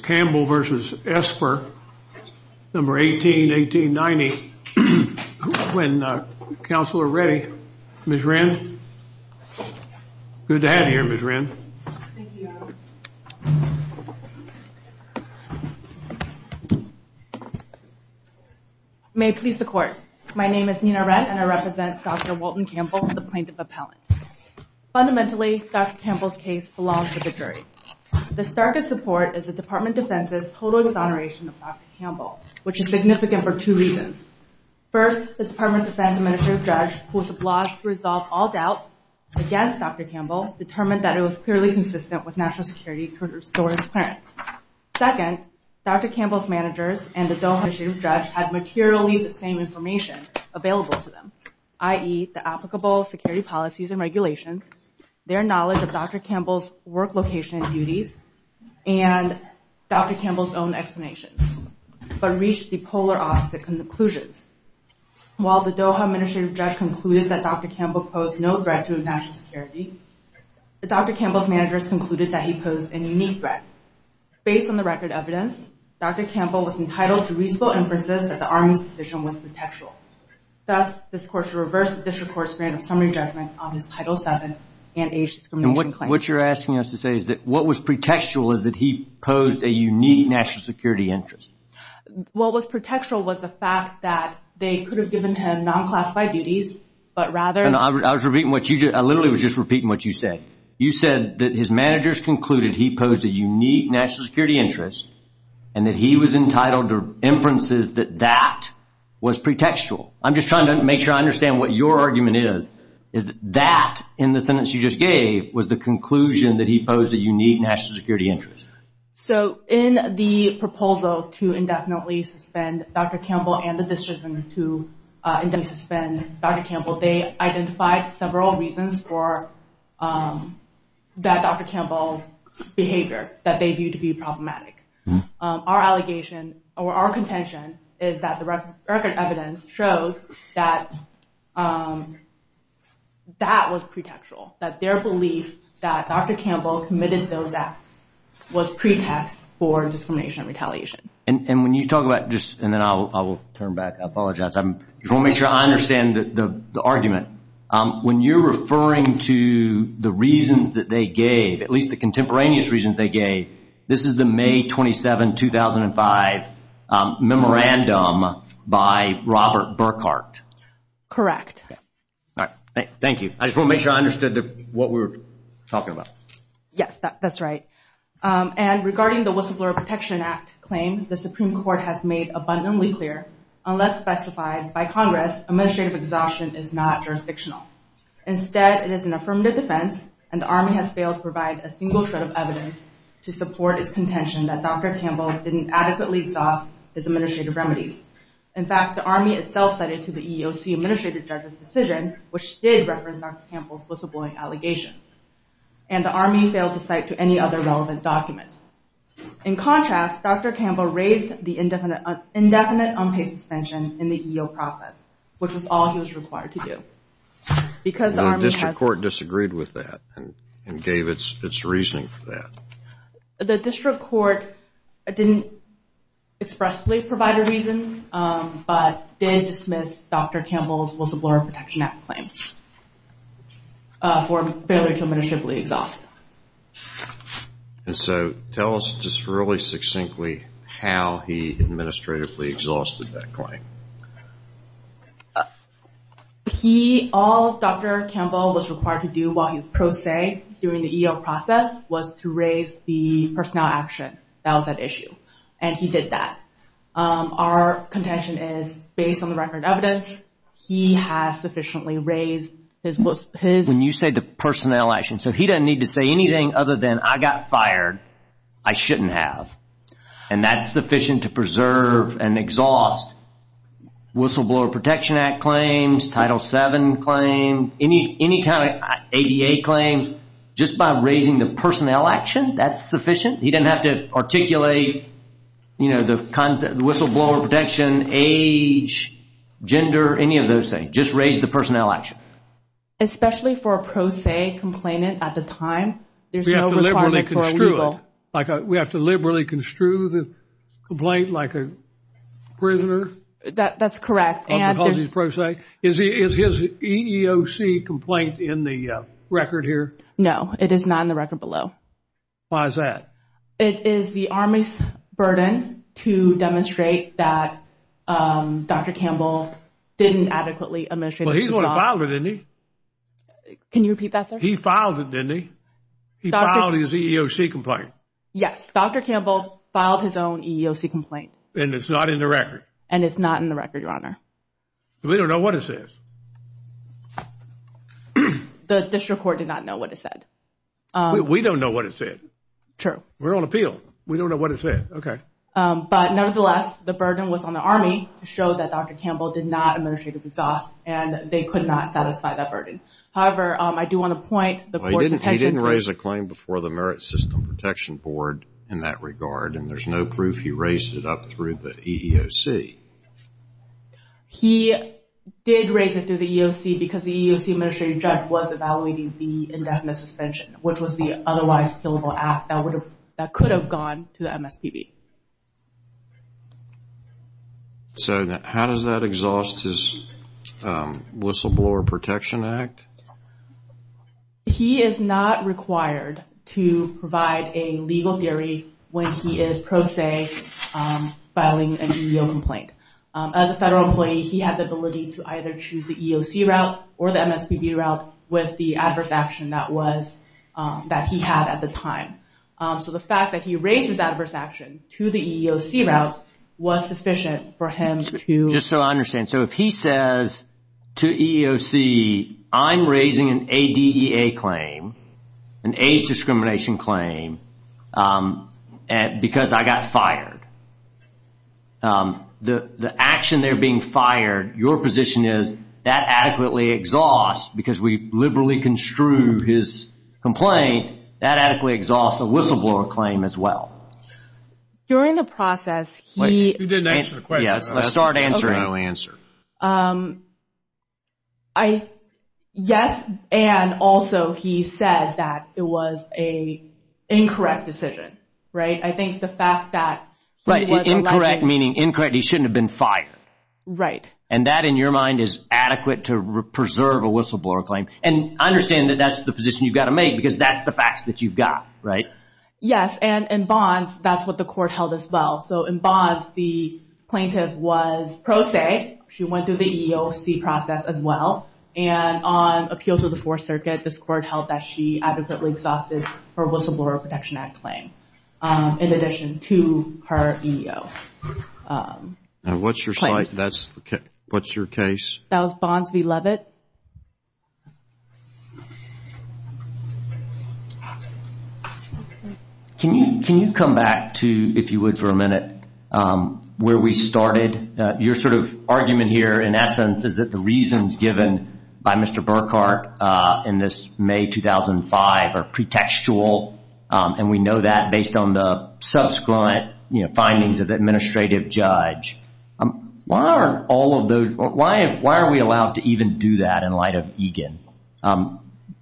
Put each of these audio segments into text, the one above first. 1818-90, when councillor Reddy, Ms. Wren, good to have you here Ms. Wren. May it please the court. My name is Nina Wren and I represent Dr. Walton Campbell, the plaintiff appellant. Fundamentally, Dr. Campbell's case belongs to the jury. The starkest support is the Department of Defense's total exoneration of Dr. Campbell, which is significant for two reasons. First, the Department of Defense Administrative Judge, who was obliged to resolve all doubt against Dr. Campbell, determined that it was clearly consistent with national security to restore his parents. Second, Dr. Campbell's managers and the Dome Administrative Judge had materially the same information available to them, i.e. the applicable security policies and regulations, their knowledge of Dr. Campbell's work location and duties, and Dr. Campbell's own explanations, but reached the polar opposite conclusions. While the Doha Administrative Judge concluded that Dr. Campbell posed no threat to national security, Dr. Campbell's managers concluded that he posed a unique threat. Based on the record evidence, Dr. Campbell was entitled to reasonable inferences that the Army's decision was contextual. Thus, this court should reverse the district court's grant of summary judgment on his Title VII and age discrimination claim. And what you're asking us to say is that what was contextual is that he posed a unique national security interest. What was contextual was the fact that they could have given him non-classified duties, but rather... I was repeating what you just... I literally was just repeating what you said. You said that his managers concluded he posed a unique national security interest, and that he was entitled to inferences that that was pretextual. I'm just trying to make sure I understand what your argument is, is that that, in the sentence you just gave, was the conclusion that he posed a unique national security interest. So, in the proposal to indefinitely suspend Dr. Campbell and the district to indefinitely suspend Dr. Campbell, they identified several reasons for that Dr. Campbell's behavior that they viewed to be problematic. Our allegation, or our contention, is that the record evidence shows that that was pretextual. That their belief that Dr. Campbell committed those acts was pretext for discrimination and retaliation. And when you talk about just... And then I will turn back. I apologize. I just want to make sure I understand the argument. When you're referring to the reasons that they gave, at least the contemporaneous reasons they gave, this is the May 27, 2005 memorandum by Robert Burkhart. Correct. Thank you. I just want to make sure I understood what we were talking about. Yes, that's right. And regarding the Whistleblower Protection Act claim, the Supreme Court has made abundantly clear, unless specified by Congress, administrative exhaustion is not jurisdictional. Instead, it is an affirmative defense, and the Army has failed to provide a single shred of evidence to support its contention that Dr. Campbell didn't adequately exhaust his administrative remedies. In fact, the Army itself cited to the EEOC administrative judge's decision, which did reference Dr. Campbell's whistleblowing allegations. And the Army failed to cite to any other relevant document. In contrast, Dr. Campbell raised the indefinite unpaid suspension in the EEOC process, which was all he was required to do. The district court disagreed with that and gave its reasoning for that. The district court didn't expressly provide a reason, but did dismiss Dr. Campbell's Whistleblower Protection Act claim for failure to administratively exhaust. And so tell us just really succinctly how he administratively exhausted that claim. All Dr. Campbell was required to do while he was pro se during the EEOC process was to raise the personnel action that was at issue, and he did that. Our contention is based on the record evidence, he has sufficiently raised his... When you say the personnel action, so he doesn't need to say anything other than, I got fired, I shouldn't have. And that's sufficient to preserve and exhaust Whistleblower Protection Act claims, Title VII claims, any kind of ADA claims. Just by raising the personnel action, that's sufficient. He didn't have to articulate the Whistleblower Protection, age, gender, any of those things. Just raise the personnel action. Especially for a pro se complainant at the time, there's no requirement for a legal... We have to liberally construe the complaint like a prisoner? That's correct. Is his EEOC complaint in the record here? No, it is not in the record below. Why is that? It is the Army's burden to demonstrate that Dr. Campbell didn't adequately administrate... But he filed it, didn't he? Can you repeat that, sir? He filed it, didn't he? He filed his EEOC complaint. Yes, Dr. Campbell filed his own EEOC complaint. And it's not in the record? And it's not in the record, Your Honor. We don't know what it says. The district court did not know what it said. We don't know what it said. True. We're on appeal. We don't know what it said. Okay. But nevertheless, the burden was on the Army to show that Dr. Campbell did not administrate exhaust and they could not satisfy that burden. However, I do want to point... He didn't raise a claim before the Merit System Protection Board in that regard. And there's no proof he raised it up through the EEOC. He did raise it through the EEOC because the EEOC administrative judge was evaluating the indefinite suspension, which was the otherwise killable act that could have gone to the MSPB. So how does that exhaust his Whistleblower Protection Act? He is not required to provide a legal theory when he is pro se filing an EEOC complaint. As a federal employee, he had the ability to either choose the EEOC route or the MSPB route with the adverse action that he had at the time. So the fact that he raised his adverse action to the EEOC route was sufficient for him to... I'm raising an ADEA claim, an age discrimination claim, because I got fired. The action there being fired, your position is that adequately exhausts, because we liberally construe his complaint, that adequately exhausts a whistleblower claim as well. During the process, he... You didn't answer the question. Let's start answering. No answer. I... Yes, and also he said that it was an incorrect decision. Right? I think the fact that... Right. Incorrect, meaning incorrect, he shouldn't have been fired. Right. And that in your mind is adequate to preserve a whistleblower claim. And understand that that's the position you've got to make, because that's the facts that you've got, right? Yes. And in bonds, that's what the court held as well. So, in bonds, the plaintiff was pro se. She went through the EEOC process as well. And on appeal to the Fourth Circuit, this court held that she adequately exhausted her Whistleblower Protection Act claim, in addition to her EEO. And what's your site? That's... What's your case? That was Bonds v. Levitt. Okay. Can you come back to, if you would for a minute, where we started? Your sort of argument here, in essence, is that the reasons given by Mr. Burkhart in this May 2005 are pretextual. And we know that based on the subsequent findings of the administrative judge. Why are all of those... Why are we allowed to even do that? In light of Egan.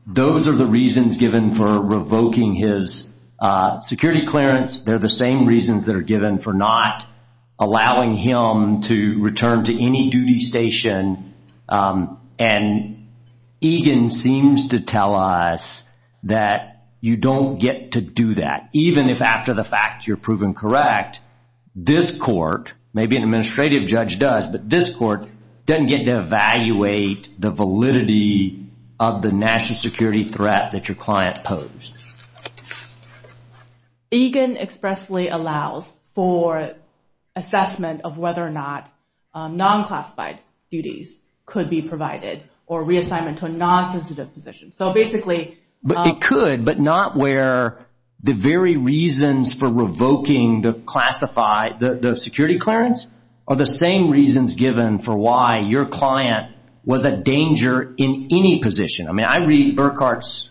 Those are the reasons given for revoking his security clearance. They're the same reasons that are given for not allowing him to return to any duty station. And Egan seems to tell us that you don't get to do that, even if after the fact you're proven correct. This court, maybe an administrative judge does, but this court doesn't get to evaluate the validity of the national security threat that your client posed. Egan expressly allows for assessment of whether or not non-classified duties could be provided, or reassignment to a non-sensitive position. So basically... It could, but not where the very reasons for revoking the classified, the security clearance, are the same reasons given for why your client was a danger in any position. I mean, I read Burkhart's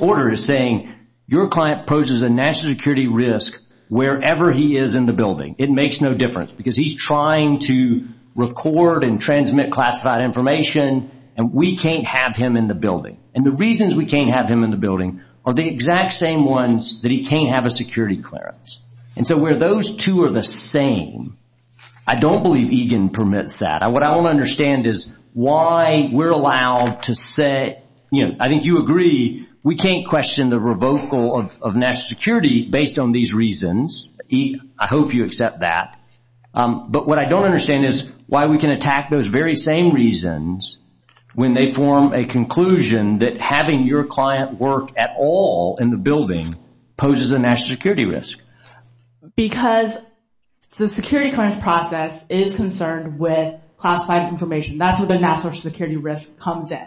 order as saying, your client poses a national security risk wherever he is in the building. It makes no difference, because he's trying to record and transmit classified information, and we can't have him in the building. And the reasons we can't have him in the building are the exact same ones that he can't have a security clearance. And so where those two are the same, I don't believe Egan permits that. What I want to understand is why we're allowed to say, you know, I think you agree, we can't question the revocal of national security based on these reasons. I hope you accept that. But what I don't understand is why we can attack those very same reasons why your client poses a national security risk. Because the security clearance process is concerned with classified information. That's where the national security risk comes in.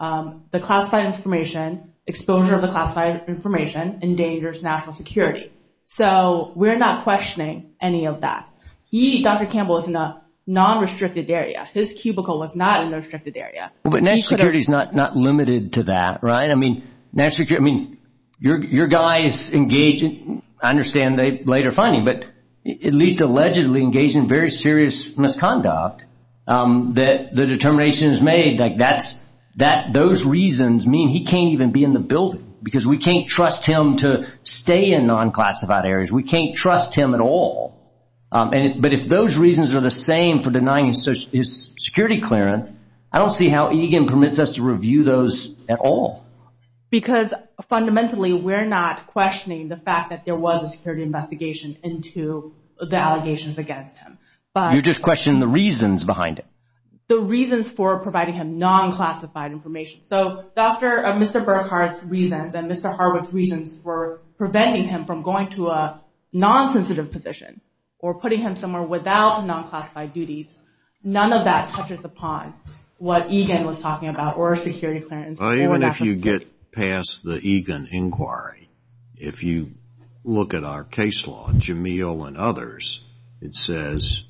The classified information, exposure of the classified information, endangers national security. So we're not questioning any of that. He, Dr. Campbell, is in a non-restricted area. His cubicle was not in a restricted area. But national security is not limited to that, right? I mean, your guys engage in, I understand they later find him, but at least allegedly engage in very serious misconduct that the determination is made that those reasons mean he can't even be in the building. Because we can't trust him to stay in non-classified areas. We can't trust him at all. But if those reasons are the same for denying his security clearance, I don't see how Egan permits us to review those at all. Because fundamentally, we're not questioning the fact that there was a security investigation into the allegations against him. You're just questioning the reasons behind it. The reasons for providing him non-classified information. So, Dr., Mr. Burkhardt's reasons and Mr. Hardwick's reasons for preventing him from going to a non-sensitive position or putting him somewhere without non-classified duties, none of that touches upon what Egan was talking about, or security clearance. Even if you get past the Egan inquiry, if you look at our case law, Jamil and others, it says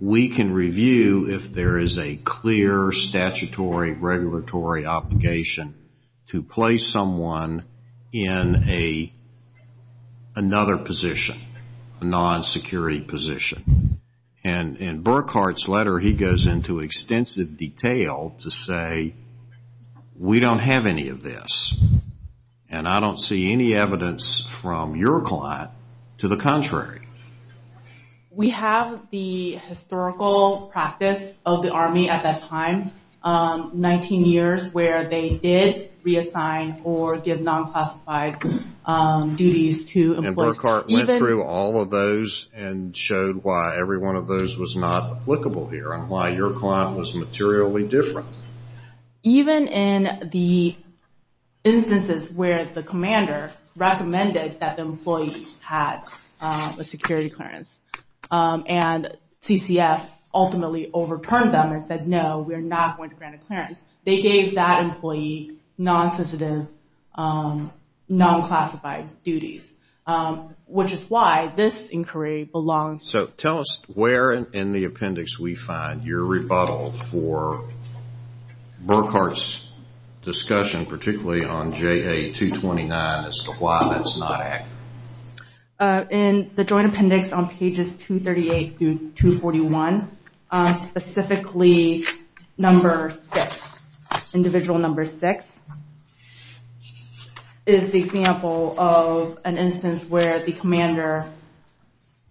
we can review if there is a clear statutory regulatory obligation to place someone in another position, a non-security position. And in Burkhardt's letter, he goes into extensive detail to say we don't have any of this. And I don't see any evidence from your client to the contrary. We have the historical practice of the Army at that time, 19 years where they did reassign or give non-classified duties to employees. And Burkhardt went through all of those and showed why every one of those was not applicable here and why your client was materially different. Even in the instances where the commander recommended that the employee had a security clearance, and TCF ultimately overturned them and said, no, we're not going to grant a clearance, they gave that employee non-sensitive, non-classified duties, which is why this inquiry belongs to... So tell us where in the appendix we find your rebuttal for Burkhardt's discussion, particularly on JA-229, as to why that's not accurate. In the joint appendix on pages 238 through 241, specifically number six, individual number six, is the example of an instance where the commander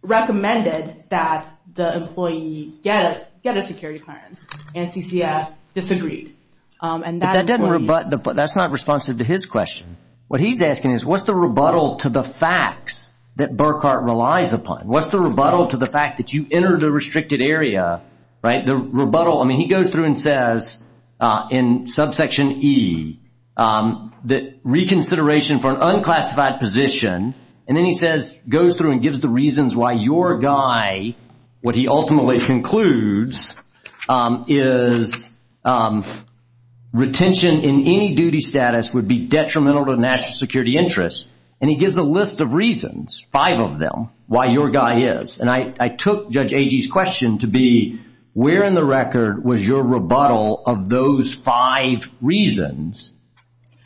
recommended that the employee get a security clearance, and TCF disagreed. But that's not responsive to his question. What he's asking is, what's the rebuttal to the facts that Burkhardt relies upon? What's the rebuttal to the fact that you entered a restricted area? The rebuttal, I mean, he goes through and says, in subsection E, that reconsideration for an unclassified position, and then he says, goes through and gives the reasons why your guy, what he ultimately concludes, is retention in any duty status would be detrimental to national security interests. And he gives a list of reasons, five of them, why your guy is. And I took Judge Agee's question to be, where in the record was your rebuttal of those five reasons,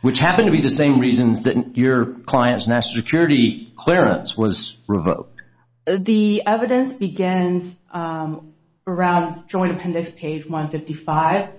which happened to be the same reasons that your client's national security clearance was revoked? The evidence begins around joint appendix page 155,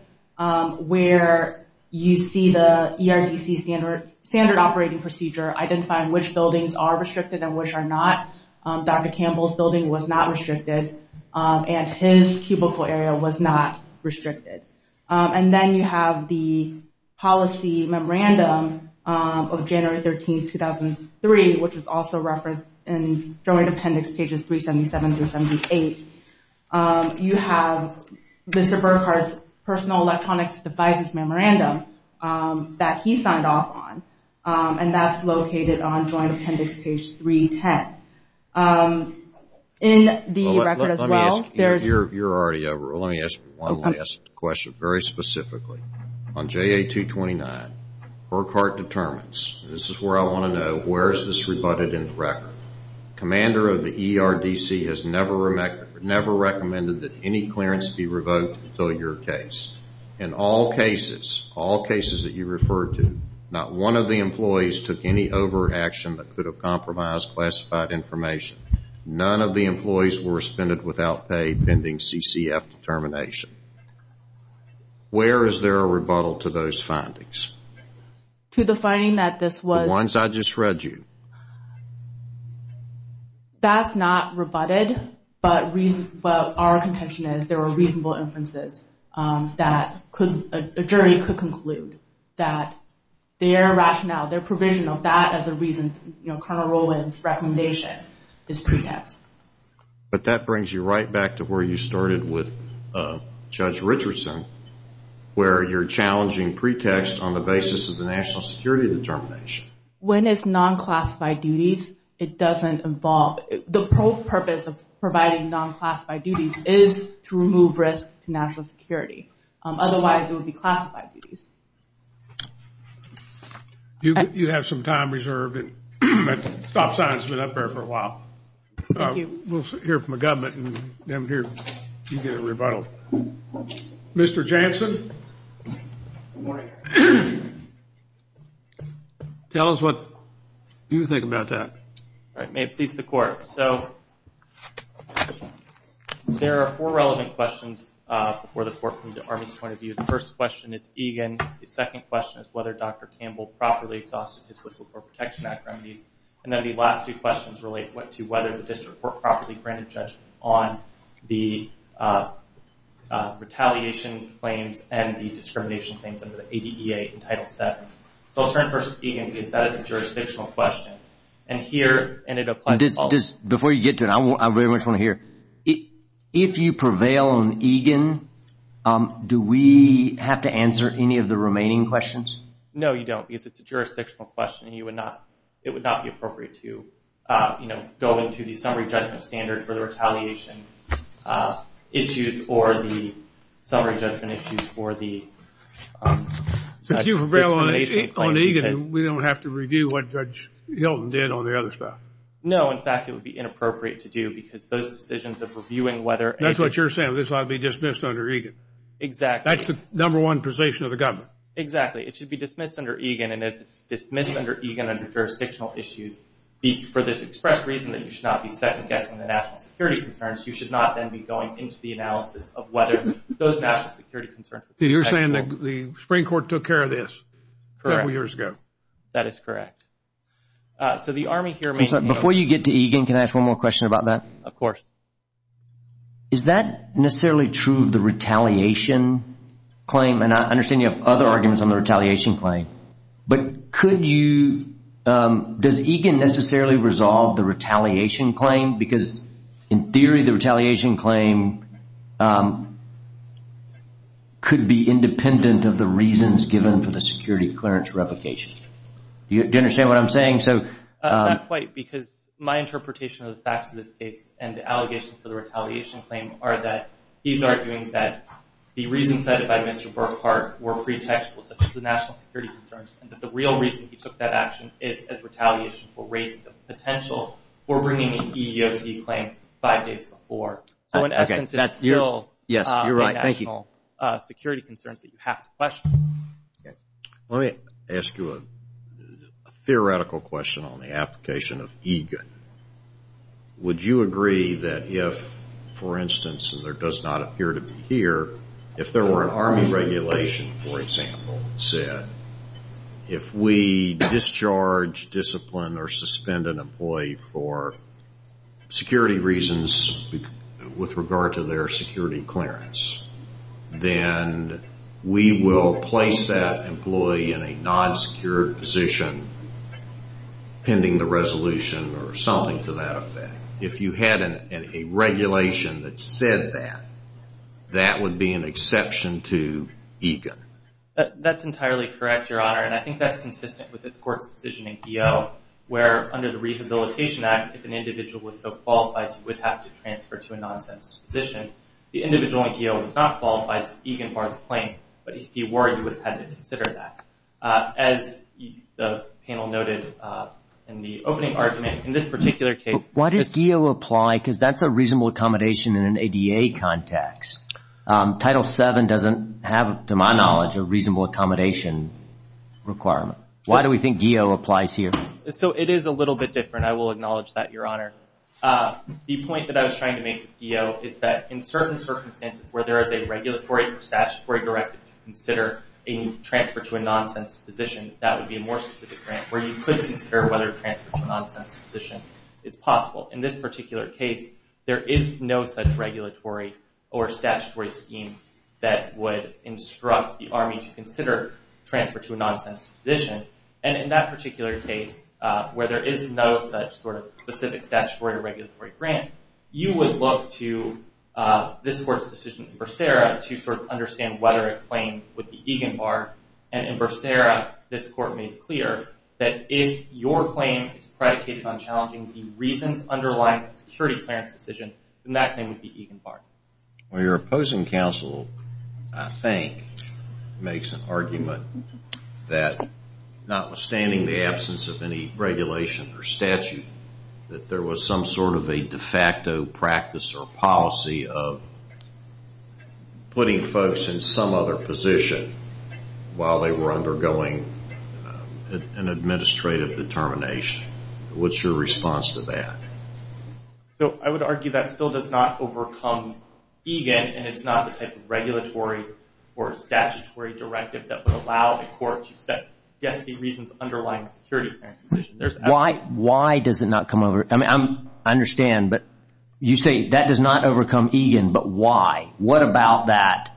where you see the ERDC standard operating procedure identifying which buildings are restricted and which are not. Dr. Campbell's building was not restricted, and his cubicle area was not restricted. And then you have the policy memorandum of January 13, 2003, which is also referenced in joint appendix pages 377 through 78. You have Mr. Burkhardt's personal electronics devices memorandum that he signed off on, and that's located on joint appendix page 310. In the record as well, there's... Let me ask you, you're already over. Let me ask one last question, very specifically. On JA 229, Burkhardt determines, this is where I want to know, where is this rebutted in the record? Commander of the ERDC has never recommended that any clearance be revoked until your case. In all cases, all cases that you referred to, not one of the employees took any over action that could have compromised classified information. None of the employees were suspended without pay pending CCF determination. Where is there a rebuttal to those findings? To the finding that this was... The ones I just read you. That's not rebutted, but our contention is there were reasonable inferences that a jury could conclude that their rationale, their provision of that as a reason for Colonel Rowland's recommendation is pretext. But that brings you right back to where you started with Judge Richardson, where you're challenging pretext on the basis of the national security determination. When it's non-classified duties, it doesn't involve... The purpose of providing non-classified duties is to remove risk to national security. Otherwise, it would be classified duties. You have some time reserved. That stop sign has been up there for a while. Thank you. We'll hear from the government and then you get a rebuttal. Mr. Jansen. Good morning. Tell us what you think about that. May it please the court. So, there are four relevant questions for the court from the Army's point of view. The first question is Egan. The second question is whether Dr. Campbell properly exhausted his Whistleblower Protection Act remedies. And then the last two questions relate to whether the district court properly granted judgment on the retaliation claims and the discrimination claims under the ADEA in Title VII. So, I'll turn first to Egan because that is a jurisdictional question. And here... Before you get to it, I very much want to hear. If you prevail on Egan, do we have to answer any of the remaining questions? No, you don't because it's a jurisdictional question. You would not... It would not be appropriate to, you know, go into the summary judgment standard for the retaliation issues or the summary judgment issues for the discrimination claims. If you prevail on Egan, we don't have to review what Judge Hilton did on the other stuff. No, in fact, it would be inappropriate to do because those decisions of reviewing whether... That's what you're saying. This ought to be dismissed under Egan. Exactly. That's the number one position of the government. Exactly. It should be dismissed under Egan and if it's dismissed under Egan under jurisdictional issues, for this express reason that you should not be second-guessing the national security concerns, you should not then be going into the analysis of whether those national security concerns... You're saying that the Supreme Court took care of this several years ago. That is correct. So, the Army here... Before you get to Egan, can I ask one more question about that? Of course. Is that necessarily true of the retaliation claim? And I understand you have other arguments on the retaliation claim, but could you... Does Egan necessarily resolve the retaliation claim? Because, in theory, the retaliation claim could be independent of the reasons given for the security clearance replication. Do you understand what I'm saying? Not quite, because my interpretation of the facts of this case and the allegation for the retaliation claim are that he's arguing that the reasons cited by Mr. Burkhardt were pretextual, such as the national security concerns, and that the real reason he took that action is as retaliation for raising the potential for bringing an EEOC claim five days before. So, in essence, it's still the national security concerns that you have to question. Let me ask you a theoretical question on the application of Egan. Would you agree that if, for instance, and there does not appear to be here, if there were an Army regulation, for example, that said if we discharge, discipline, or suspend an employee for security reasons with regard to their security clearance, then we will place that employee in a non-secure position pending the resolution or something to that effect? If you had a regulation that said that, that would be an exception to Egan. That's entirely correct, Your Honor, and I think that's consistent with this court's decision in Geo where, under the Rehabilitation Act, if an individual was so qualified, you would have to transfer to a non-sense position. The individual in Geo was not qualified to Egan-borne the claim, but if he were, you would have had to consider that. As the panel noted in the opening argument, in this particular case... Why does Geo apply? Because that's a reasonable accommodation in an ADA context. Title VII doesn't have, to my knowledge, a reasonable accommodation requirement. Why do we think Geo applies here? So it is a little bit different. I will acknowledge that, Your Honor. The point that I was trying to make with Geo is that in certain circumstances where there is a regulatory statutory directive to consider a transfer to a non-sense position, that would be a more specific grant where you could consider whether a transfer to a non-sense position is possible. In this particular case, there is no such regulatory or statutory scheme that would instruct the Army to consider a transfer to a non-sense position, and in that particular case, where there is no such specific statutory or regulatory grant, you would look to this court's decision in Bracera to sort of understand whether a claim would be Egan-Barr, and in Bracera, this court made clear that if your claim is predicated on challenging the reasons underlying a security clearance decision, then that claim would be Egan-Barr. Well, your opposing counsel, I think, makes an argument that notwithstanding the absence of any regulation or statute, that there was some sort of a de facto practice or policy of putting folks in some other position while they were undergoing an administrative determination. What's your response to that? So I would argue that still does not overcome Egan, and it's not the type of regulatory or statutory directive that would allow the court to set, yes, the reasons underlying a security clearance decision. Why does it not come over? I mean, I understand, but you say, that does not overcome Egan, but why? What about that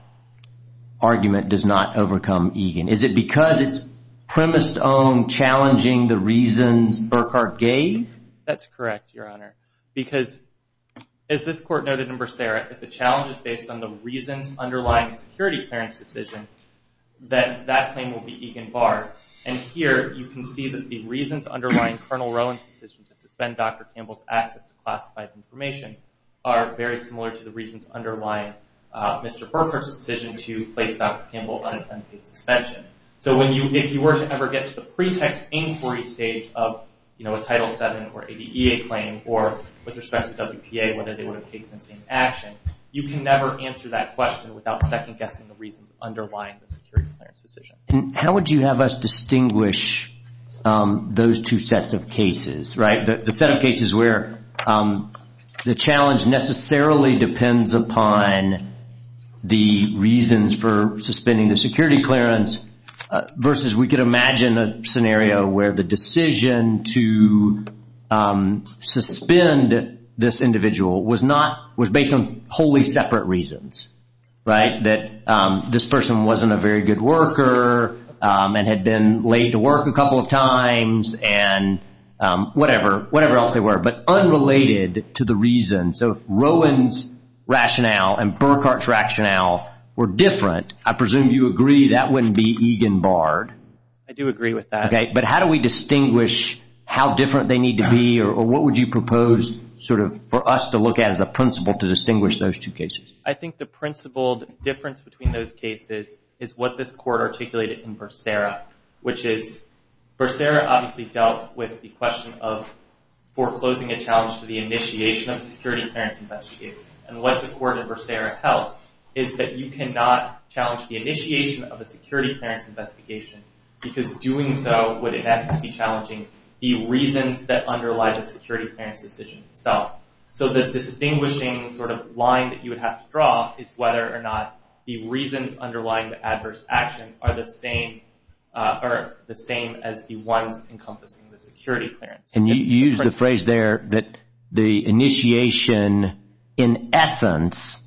argument does not overcome Egan? Is it because it's premised on challenging the reasons Burkhardt gave? That's correct, Your Honor, because as this court noted in Bracera, if the challenge is based on the reasons underlying a security clearance decision, and here you can see that the reasons for Dr. Campbell's access to classified information are very similar to the reasons underlying Mr. Burkhardt's decision to place Dr. Campbell under unpaid suspension. So if you were to ever get to the pretext inquiry stage of a Title VII or ADA claim, or with respect to WPA, whether they would have taken the same action, you can never answer that question without second-guessing the reasons underlying the security clearance decision. How would you have us distinguish those two sets of cases? The set of cases where the challenge necessarily depends upon the reasons for suspending the security clearance versus we could imagine a scenario where the decision to suspend this individual was based on wholly separate reasons, that this person wasn't a very good worker and had been late to work a couple of times and whatever else they were, but unrelated to the reason. So if Rowan's rationale and Burkhardt's rationale were different, I presume you agree that wouldn't be Egan-barred. I do agree with that. But how do we distinguish how different they need to be or what would you propose for us to look at as a principle to distinguish those two cases? I think the principled difference between those cases is what this Court articulated in Bercera, which is Bercera obviously dealt with the question of foreclosing a challenge to the initiation of a security clearance investigation. And what the Court of Bercera held is that you cannot challenge the initiation of a security clearance investigation because doing so would in essence be challenging the reasons that underlie the security clearance decision itself. So the distinguishing line that you would have to draw is whether or not the reasons underlying the adverse action are the same as the ones encompassing the security clearance. And you used the phrase there that the initiation in essence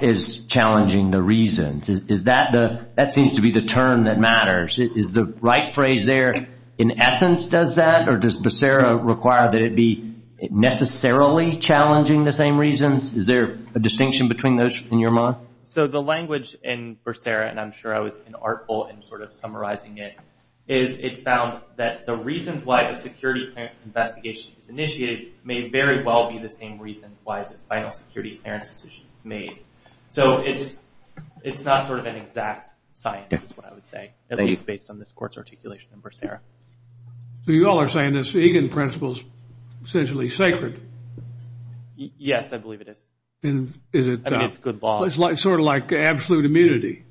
is challenging the reasons. That seems to be the term that matters. Is the right phrase there in essence does that or does Bercera require that it be necessarily challenging the same reasons? Is there a distinction between those in your mind? So the language in Bercera, and I'm sure I was inartful in sort of summarizing it, is it found that the reasons why a security clearance investigation is initiated may very well be the same reasons why this final security clearance decision is made. So it's not sort of an exact science is what I would say. At least based on this Court's articulation in Bercera. So you all are saying this Egan principle is essentially sacred? Yes, I believe it is. I mean, it's good law. It's sort of like absolute immunity.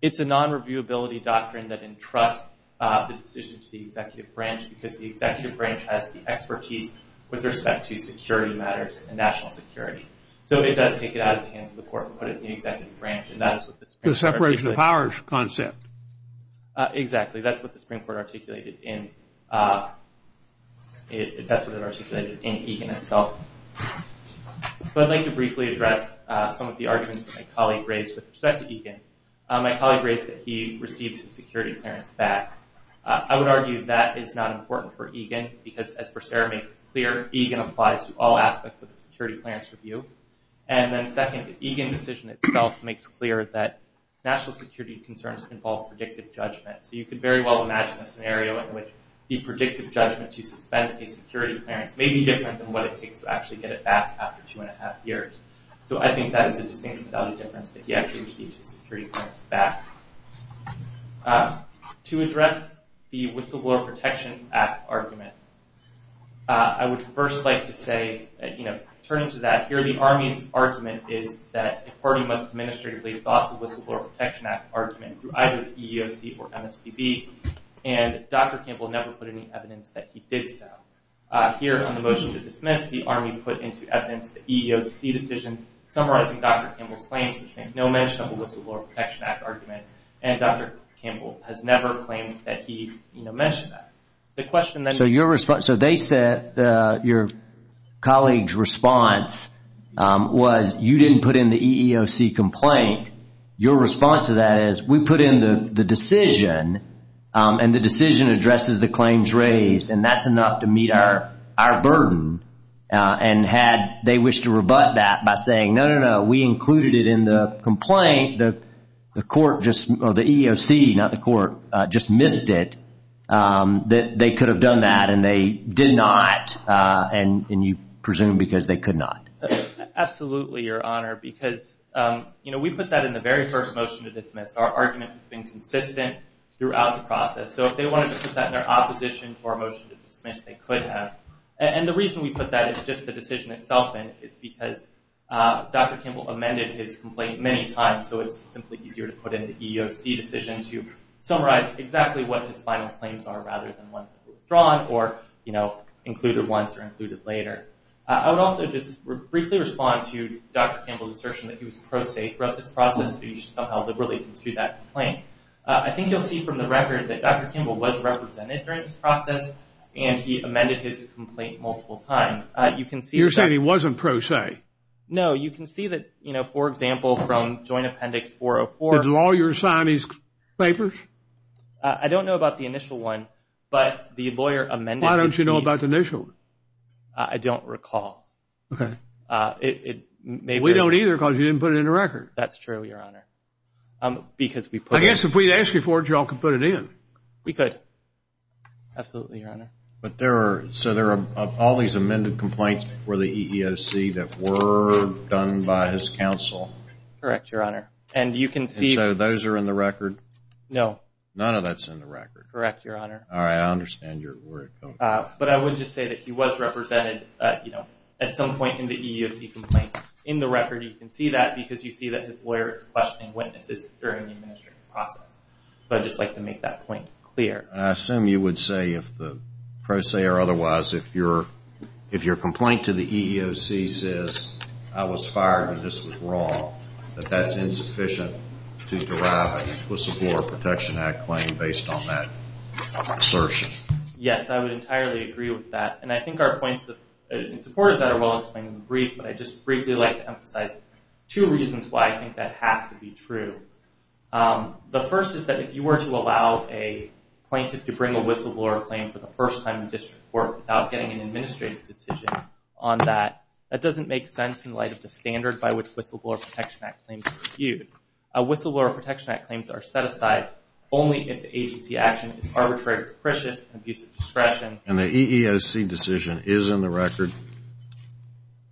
It's a non-reviewability doctrine that entrusts the decision to the executive branch because the executive branch has the expertise with respect to security matters and national security. So it does take it out of the hands of the Court and put it in the executive branch. The separation of powers concept. Exactly, that's what the Supreme Court articulated in Egan itself. So I'd like to briefly address some of the arguments that my colleague raised with respect to Egan. My colleague raised that he received his security clearance back. I would argue that is not important for Egan because as Bercera makes clear, Egan applies to all aspects of the security clearance review. And then second, the Egan decision itself makes clear that national security concerns involve predictive judgment. So you could very well imagine a scenario in which the predictive judgment to suspend a security clearance may be different than what it takes to actually get it back after two and a half years. So I think that is a distinction of value difference that he actually received his security clearance back. To address the Whistleblower Protection Act argument, I would first like to say, turning to that, here the Army's argument is that a party must administratively exhaust the Whistleblower Protection Act argument through either the EEOC or MSPB, and Dr. Campbell never put any evidence that he did so. Here on the motion to dismiss, the Army put into evidence the EEOC decision, summarizing Dr. Campbell's claims, which make no mention of the Whistleblower Protection Act argument, and Dr. Campbell has never claimed that he mentioned that. So they said your colleague's response was, you didn't put in the EEOC complaint. Your response to that is, we put in the decision, and the decision addresses the claims raised, and that's enough to meet our burden. And had they wished to rebut that by saying, no, no, no, we included it in the complaint, the court just, or the EEOC, not the court, just missed it, that they could have done that, and they did not, and you presume because they could not. Absolutely, Your Honor, because, you know, we put that in the very first motion to dismiss. Our argument has been consistent throughout the process. So if they wanted to put that in their opposition to our motion to dismiss, they could have. And the reason we put that in, just the decision itself in, is because Dr. Campbell amended his complaint many times, so it's simply easier to put in the EEOC decision to summarize exactly what his final claims are, rather than ones that were withdrawn, or, you know, included once or included later. I would also just briefly respond to Dr. Campbell's assertion that he was pro se throughout this process, so you should somehow liberally conclude that complaint. I think you'll see from the record that Dr. Campbell was represented during this process, and he amended his complaint multiple times. You can see that. You're saying he wasn't pro se. No, you can see that, you know, for example, from Joint Appendix 404. Did lawyers sign these papers? I don't know about the initial one, but the lawyer amended it. Why don't you know about the initial one? I don't recall. Okay. It may be. We don't either because you didn't put it in the record. That's true, Your Honor, because we put it in. Well, I guess if we ask you for it, you all could put it in. We could. Absolutely, Your Honor. So there are all these amended complaints before the EEOC that were done by his counsel? Correct, Your Honor. And so those are in the record? No. None of that's in the record. Correct, Your Honor. All right. I understand where you're coming from. But I would just say that he was represented, you know, at some point in the EEOC complaint. In the record, you can see that because you see that his lawyer is questioning witnesses during the administrative process. So I'd just like to make that point clear. I assume you would say, if the pro se or otherwise, if your complaint to the EEOC says, I was fired and this was wrong, that that's insufficient to derive an Equal Support Protection Act claim based on that assertion. Yes, I would entirely agree with that. And I think our points in support of that are well explained in the brief, but I'd just briefly like to emphasize two reasons why I think that has to be true. The first is that if you were to allow a plaintiff to bring a whistleblower claim for the first time in district court without getting an administrative decision on that, that doesn't make sense in light of the standard by which Whistleblower Protection Act claims are reviewed. Whistleblower Protection Act claims are set aside only if the agency action is arbitrary, capricious, and abuse of discretion. And the EEOC decision is in the record?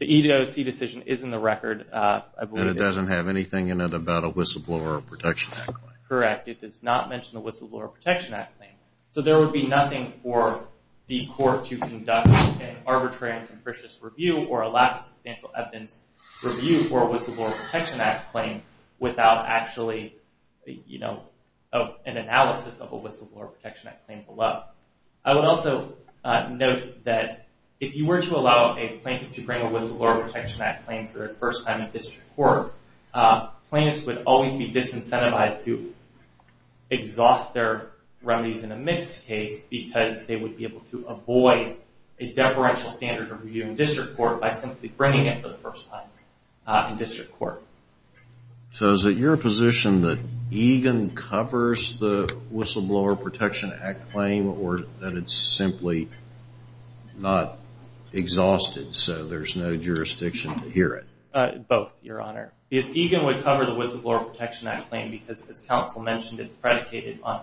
The EEOC decision is in the record. And it doesn't have anything in it about a Whistleblower Protection Act claim? Correct. It does not mention the Whistleblower Protection Act claim. So there would be nothing for the court to conduct an arbitrary and capricious review or a lack of substantial evidence review for a Whistleblower Protection Act claim without actually an analysis of a Whistleblower Protection Act claim below. I would also note that if you were to allow a plaintiff to bring a Whistleblower Protection Act claim for the first time in district court, plaintiffs would always be disincentivized to exhaust their remedies in a mixed case because they would be able to avoid a deferential standard of review in district court by simply bringing it for the first time in district court. So is it your position that EGAN covers the Whistleblower Protection Act claim or that it's simply not exhausted so there's no jurisdiction to hear it? Both, Your Honor. EGAN would cover the Whistleblower Protection Act claim because, as counsel mentioned, it's predicated on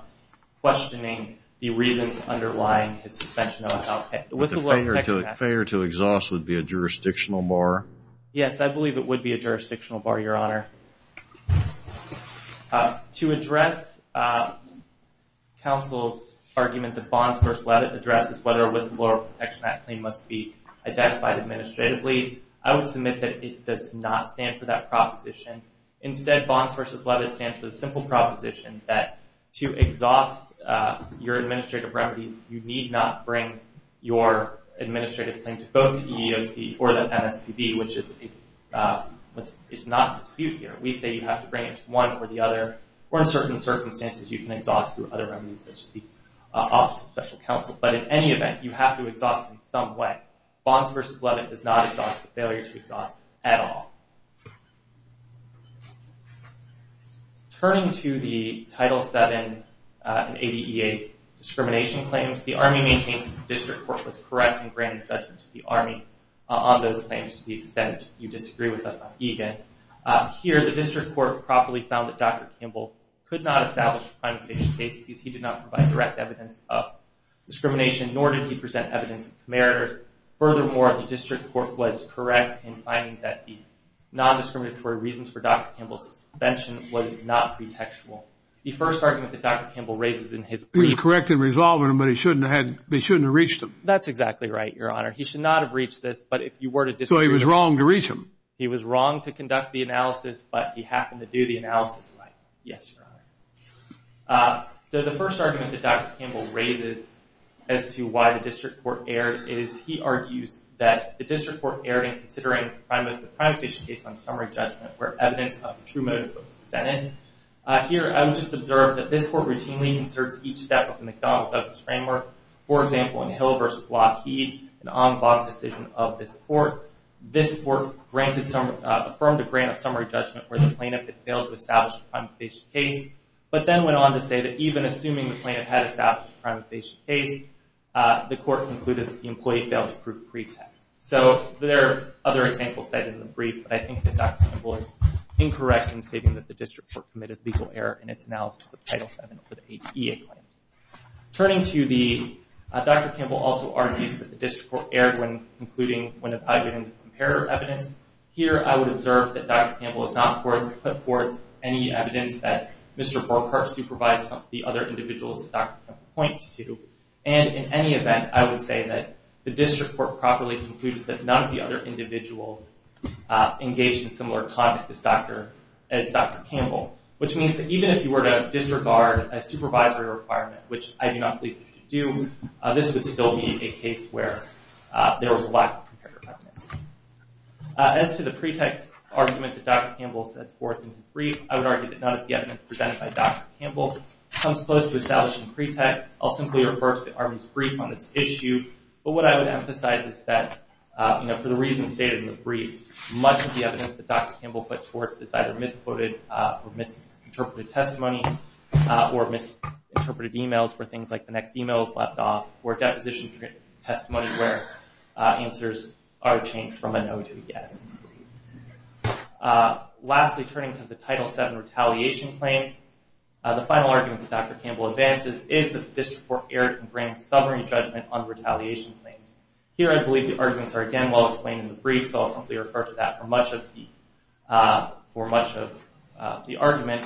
questioning the reasons underlying his suspension of a Whistleblower Protection Act claim. But the failure to exhaust would be a jurisdictional bar? Yes, I believe it would be a jurisdictional bar, Your Honor. To address counsel's argument that Bonds v. Levitt addresses whether a Whistleblower Protection Act claim must be identified administratively, I would submit that it does not stand for that proposition. Instead, Bonds v. Levitt stands for the simple proposition that to exhaust your administrative remedies, you need not bring your administrative claim to both the EEOC or the MSPB, which is not a dispute here. We say you have to bring it to one or the other, or in certain circumstances, you can exhaust through other remedies such as the Office of Special Counsel. But in any event, you have to exhaust in some way. Bonds v. Levitt does not exhaust the failure to exhaust at all. Turning to the Title VII and 80EA discrimination claims, the Army maintains that the District Court was correct in granting judgment to the Army on those claims to the extent you disagree with us on EGAN. Here, the District Court properly found that Dr. Kimball could not establish a crime of evasion case because he did not provide direct evidence of discrimination, nor did he present evidence of comeritors. Furthermore, the District Court was correct in finding that the non-discriminatory reasons for Dr. Kimball's suspension would not be textual. The first argument that Dr. Kimball raises in his brief... He was correct in resolving them, but he shouldn't have reached them. That's exactly right, Your Honor. He should not have reached this, but if you were to disagree... So he was wrong to reach them. He was wrong to conduct the analysis, but he happened to do the analysis right. Yes, Your Honor. So the first argument that Dr. Kimball raises as to why the District Court erred is he argues that the District Court erred in considering the crime of evasion case on summary judgment where evidence of true motive was presented. Here, I would just observe that this Court routinely conserves each step of the McDonald-Douglas framework. For example, in Hill v. Lockheed, an en banc decision of this Court, this Court affirmed a grant of summary judgment where the plaintiff had failed to establish a crime of evasion case. But then went on to say that even assuming the plaintiff had established a crime of evasion case, the Court concluded that the employee failed to prove pretext. So there are other examples cited in the brief, but I think that Dr. Kimball is incorrect in stating that the District Court committed a legal error in its analysis of Title VII of the ADA claims. Turning to the... Dr. Kimball also argues that the District Court erred when concluding when applied to comparative evidence. Here, I would observe that Dr. Kimball has not put forth any evidence that Mr. Burkhart supervised some of the other individuals that Dr. Kimball points to. And in any event, I would say that the District Court properly concluded that none of the other individuals engaged in similar conduct as Dr. Kimball, which means that even if you were to disregard a supervisory requirement, which I do not believe you should do, this would still be a case where there was lack of comparative evidence. As to the pretext argument that Dr. Kimball sets forth in his brief, I would argue that none of the evidence presented by Dr. Kimball comes close to establishing pretext. I'll simply refer to the Army's brief on this issue. But what I would emphasize is that, you know, for the reasons stated in the brief, much of the evidence that Dr. Kimball puts forth is either misquoted or misinterpreted testimony or misinterpreted emails for things like the next email is left off or deposition testimony where answers are changed from a no to a yes. Lastly, turning to the Title VII retaliation claims, the final argument that Dr. Kimball advances is that the District Court erred in granting sovereign judgment on retaliation claims. Here, I believe the arguments are again well-explained in the brief, so I'll simply refer to that for much of the argument.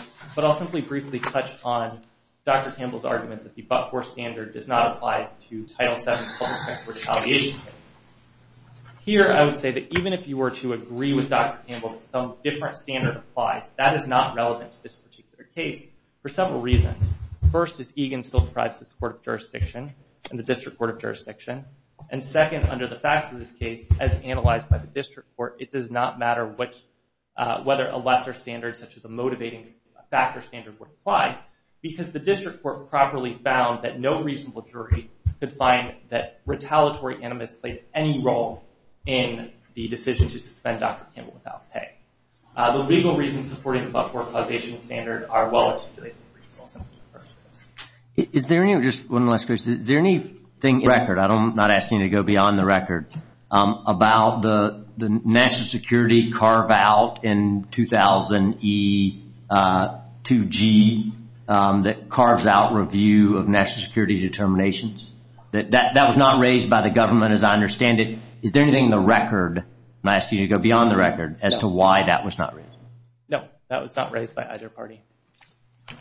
Here, I would say that even if you were to agree with Dr. Kimball that some different standard applies, that is not relevant to this particular case for several reasons. First, is Egan still deprives this Court of Jurisdiction and the District Court of Jurisdiction? And second, under the facts of this case, as analyzed by the District Court, it does not matter whether a lesser standard such as a motivating factor standard would apply because the District Court properly found that no reasonable jury could find that retaliatory animus played any role in the decision to suspend Dr. Kimball without pay. The legal reasons supporting the above four causation standard are well-articulated. Is there any, just one last question, is there anything in the record, I'm not asking you to go beyond the record, about the national security carve-out in 2000 E2G that carves out review of national security determinations? That was not raised by the government as I understand it. Is there anything in the record, I'm asking you to go beyond the record, as to why that was not raised? No, that was not raised by either party.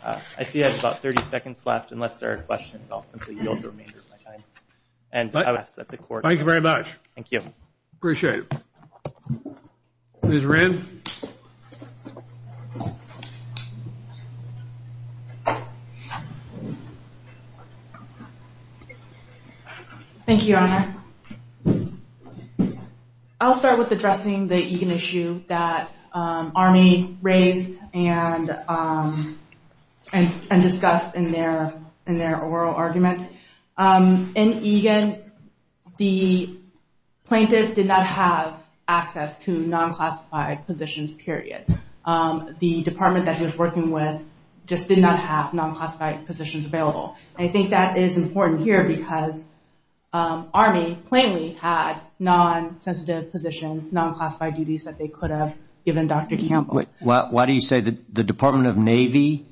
I see I have about 30 seconds left. Unless there are questions, I'll simply yield the remainder of my time. Thank you very much. Thank you. Appreciate it. Ms. Rand? Thank you, Your Honor. I'll start with addressing the Egan issue that Army raised and discussed in their oral argument. In Egan, the plaintiff did not have access to non-classified positions, period. The department that he was working with just did not have non-classified positions available. I think that is important here because Army plainly had non-sensitive positions, non-classified duties that they could have given Dr. Kimball. Why do you say the Department of Navy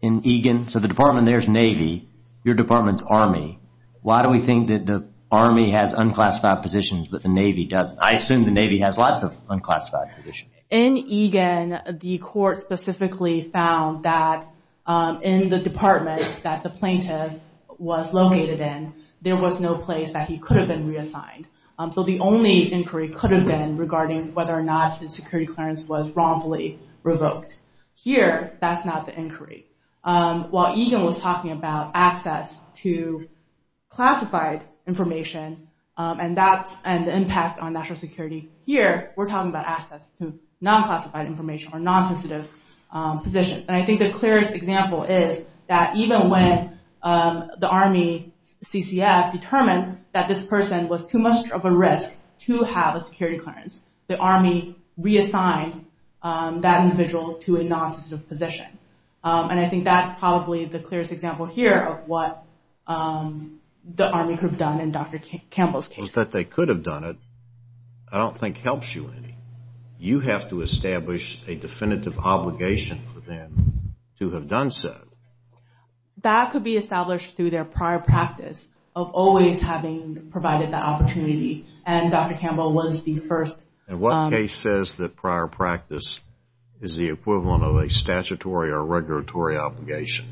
in Egan, so the department there is Navy, your department is Army. Why do we think that the Army has unclassified positions but the Navy doesn't? I assume the Navy has lots of unclassified positions. In Egan, the court specifically found that in the department that the plaintiff was located in, there was no place that he could have been reassigned. So the only inquiry could have been regarding whether or not his security clearance was wrongfully revoked. Here, that's not the inquiry. While Egan was talking about access to classified information, and the impact on national security here, we're talking about access to non-classified information or non-sensitive positions. I think the clearest example is that even when the Army CCF determined that this person was too much of a risk to have a security clearance, the Army reassigned that individual to a non-sensitive position. And I think that's probably the clearest example here of what the Army could have done in Dr. Campbell's case. That they could have done it, I don't think helps you any. You have to establish a definitive obligation for them to have done so. That could be established through their prior practice of always having provided that opportunity, and Dr. Campbell was the first. And what case says that prior practice is the equivalent of a statutory or regulatory obligation?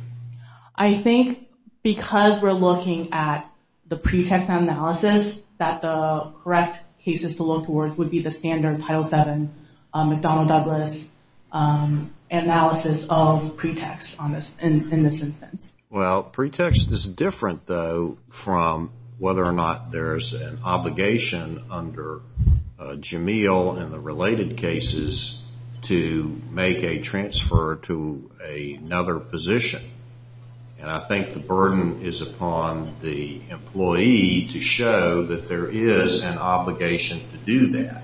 I think because we're looking at the pretext analysis, that the correct cases to look towards would be the standard Title VII, McDonnell-Douglas analysis of pretext in this instance. Well, pretext is different, though, from whether or not there's an obligation under Jameel in the related cases to make a transfer to another position. And I think the burden is upon the employee to show that there is an obligation to do that.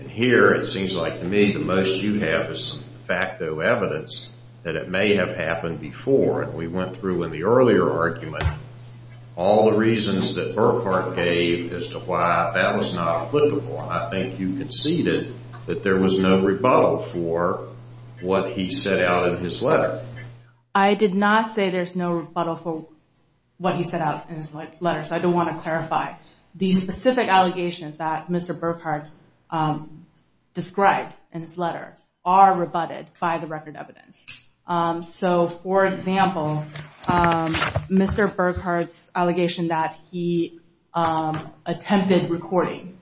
And here it seems like to me the most you have is some facto evidence that it may have happened before, and we went through in the earlier argument all the reasons that Burkhart gave as to why that was not applicable. I think you conceded that there was no rebuttal for what he set out in his letter. I did not say there's no rebuttal for what he set out in his letter, so I don't want to clarify. The specific allegations that Mr. Burkhart described in his letter are rebutted by the record evidence. So, for example, Mr. Burkhart's allegation that he attempted recording,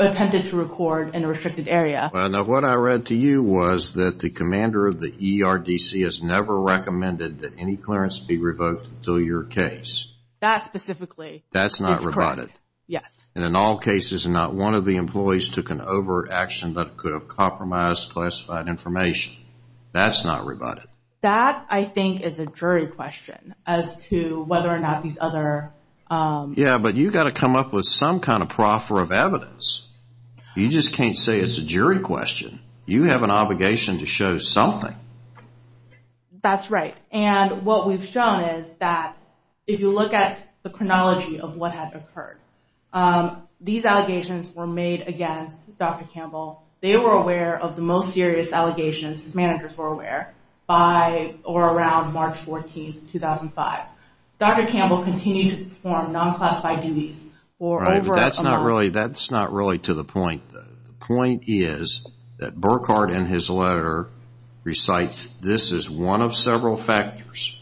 attempted to record in a restricted area. Now, what I read to you was that the commander of the ERDC has never recommended that any clearance be revoked until your case. That specifically is correct. That's not rebutted? Yes. And in all cases, not one of the employees took an overt action that could have compromised classified information. That's not rebutted? That, I think, is a jury question as to whether or not these other... Yeah, but you've got to come up with some kind of proffer of evidence. You just can't say it's a jury question. You have an obligation to show something. That's right. And what we've shown is that if you look at the chronology of what had occurred, these allegations were made against Dr. Campbell. They were aware of the most serious allegations, his managers were aware, by or around March 14, 2005. Dr. Campbell continued to perform non-classified duties for over a month. Right, but that's not really to the point. The point is that Burkhardt in his letter recites this is one of several factors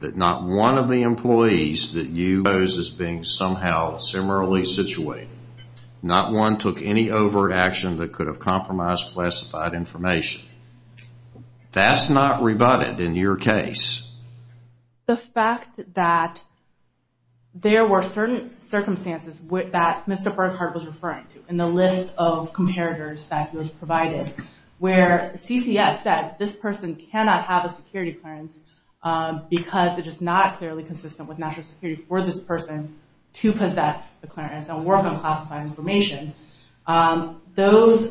that not one of the employees that you pose as being somehow similarly situated. Not one took any overt action that could have compromised classified information. That's not rebutted in your case. The fact that there were certain circumstances that Mr. Burkhardt was referring to in the list of comparators that he was provided, where CCF said this person cannot have a security clearance because it is not clearly consistent with national security for this person to possess the clearance and work on classified information. The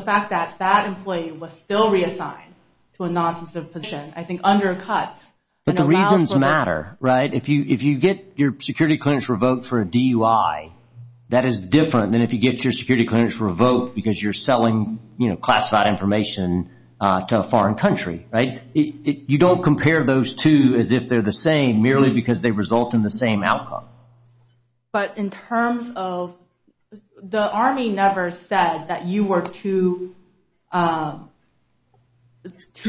fact that that employee was still reassigned to a non-sensitive position I think undercuts... But the reasons matter, right? If you get your security clearance revoked for a DUI, that is different than if you get your security clearance revoked because you're selling classified information to a foreign country, right? You don't compare those two as if they're the same merely because they result in the same outcome. But in terms of... The Army never said that you were too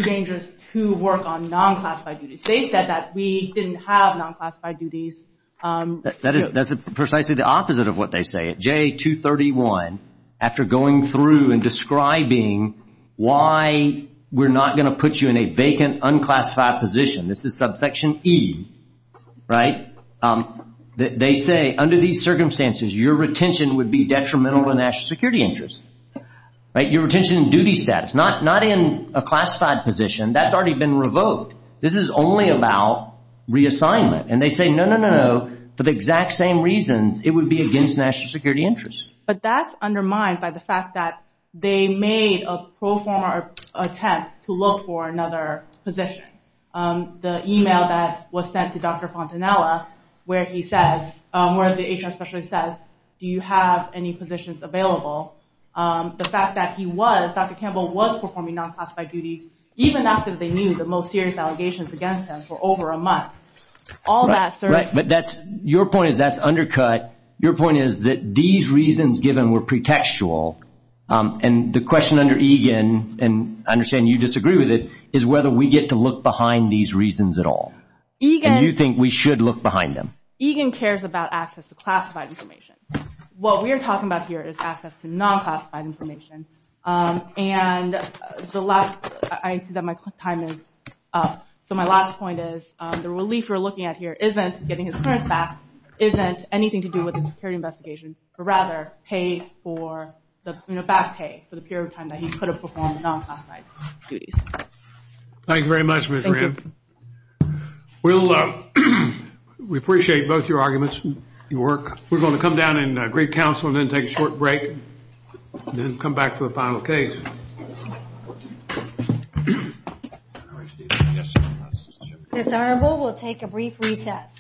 dangerous to work on non-classified duties. They said that we didn't have non-classified duties. That's precisely the opposite of what they say. At JA231, after going through and describing why we're not going to put you in a vacant unclassified position, this is subsection E, right? They say under these circumstances, your retention would be detrimental to national security interests. Your retention in duty status, not in a classified position, that's already been revoked. This is only about reassignment. And they say, no, no, no, for the exact same reasons, it would be against national security interests. But that's undermined by the fact that they made a pro forma attempt to look for another position. The email that was sent to Dr. Fontanella where he says, where the HR specialist says, do you have any positions available? The fact that he was, Dr. Campbell was performing non-classified duties even after they knew the most serious allegations against him for over a month. All that service. But that's, your point is that's undercut. Your point is that these reasons given were pretextual. And the question under EGAN, and I understand you disagree with it, is whether we get to look behind these reasons at all. And you think we should look behind them. EGAN cares about access to classified information. What we are talking about here is access to non-classified information. And the last, I see that my time is up. So my last point is, the relief we're looking at here isn't getting his clearance back, isn't anything to do with the security investigation, but rather pay for, you know, back pay for the period of time that he could have performed non-classified duties. Thank you very much, Ms. Graham. We'll, we appreciate both your arguments, your work. We're going to come down and greet counsel and then take a short break. And then come back to a final case. This honorable will take a brief recess.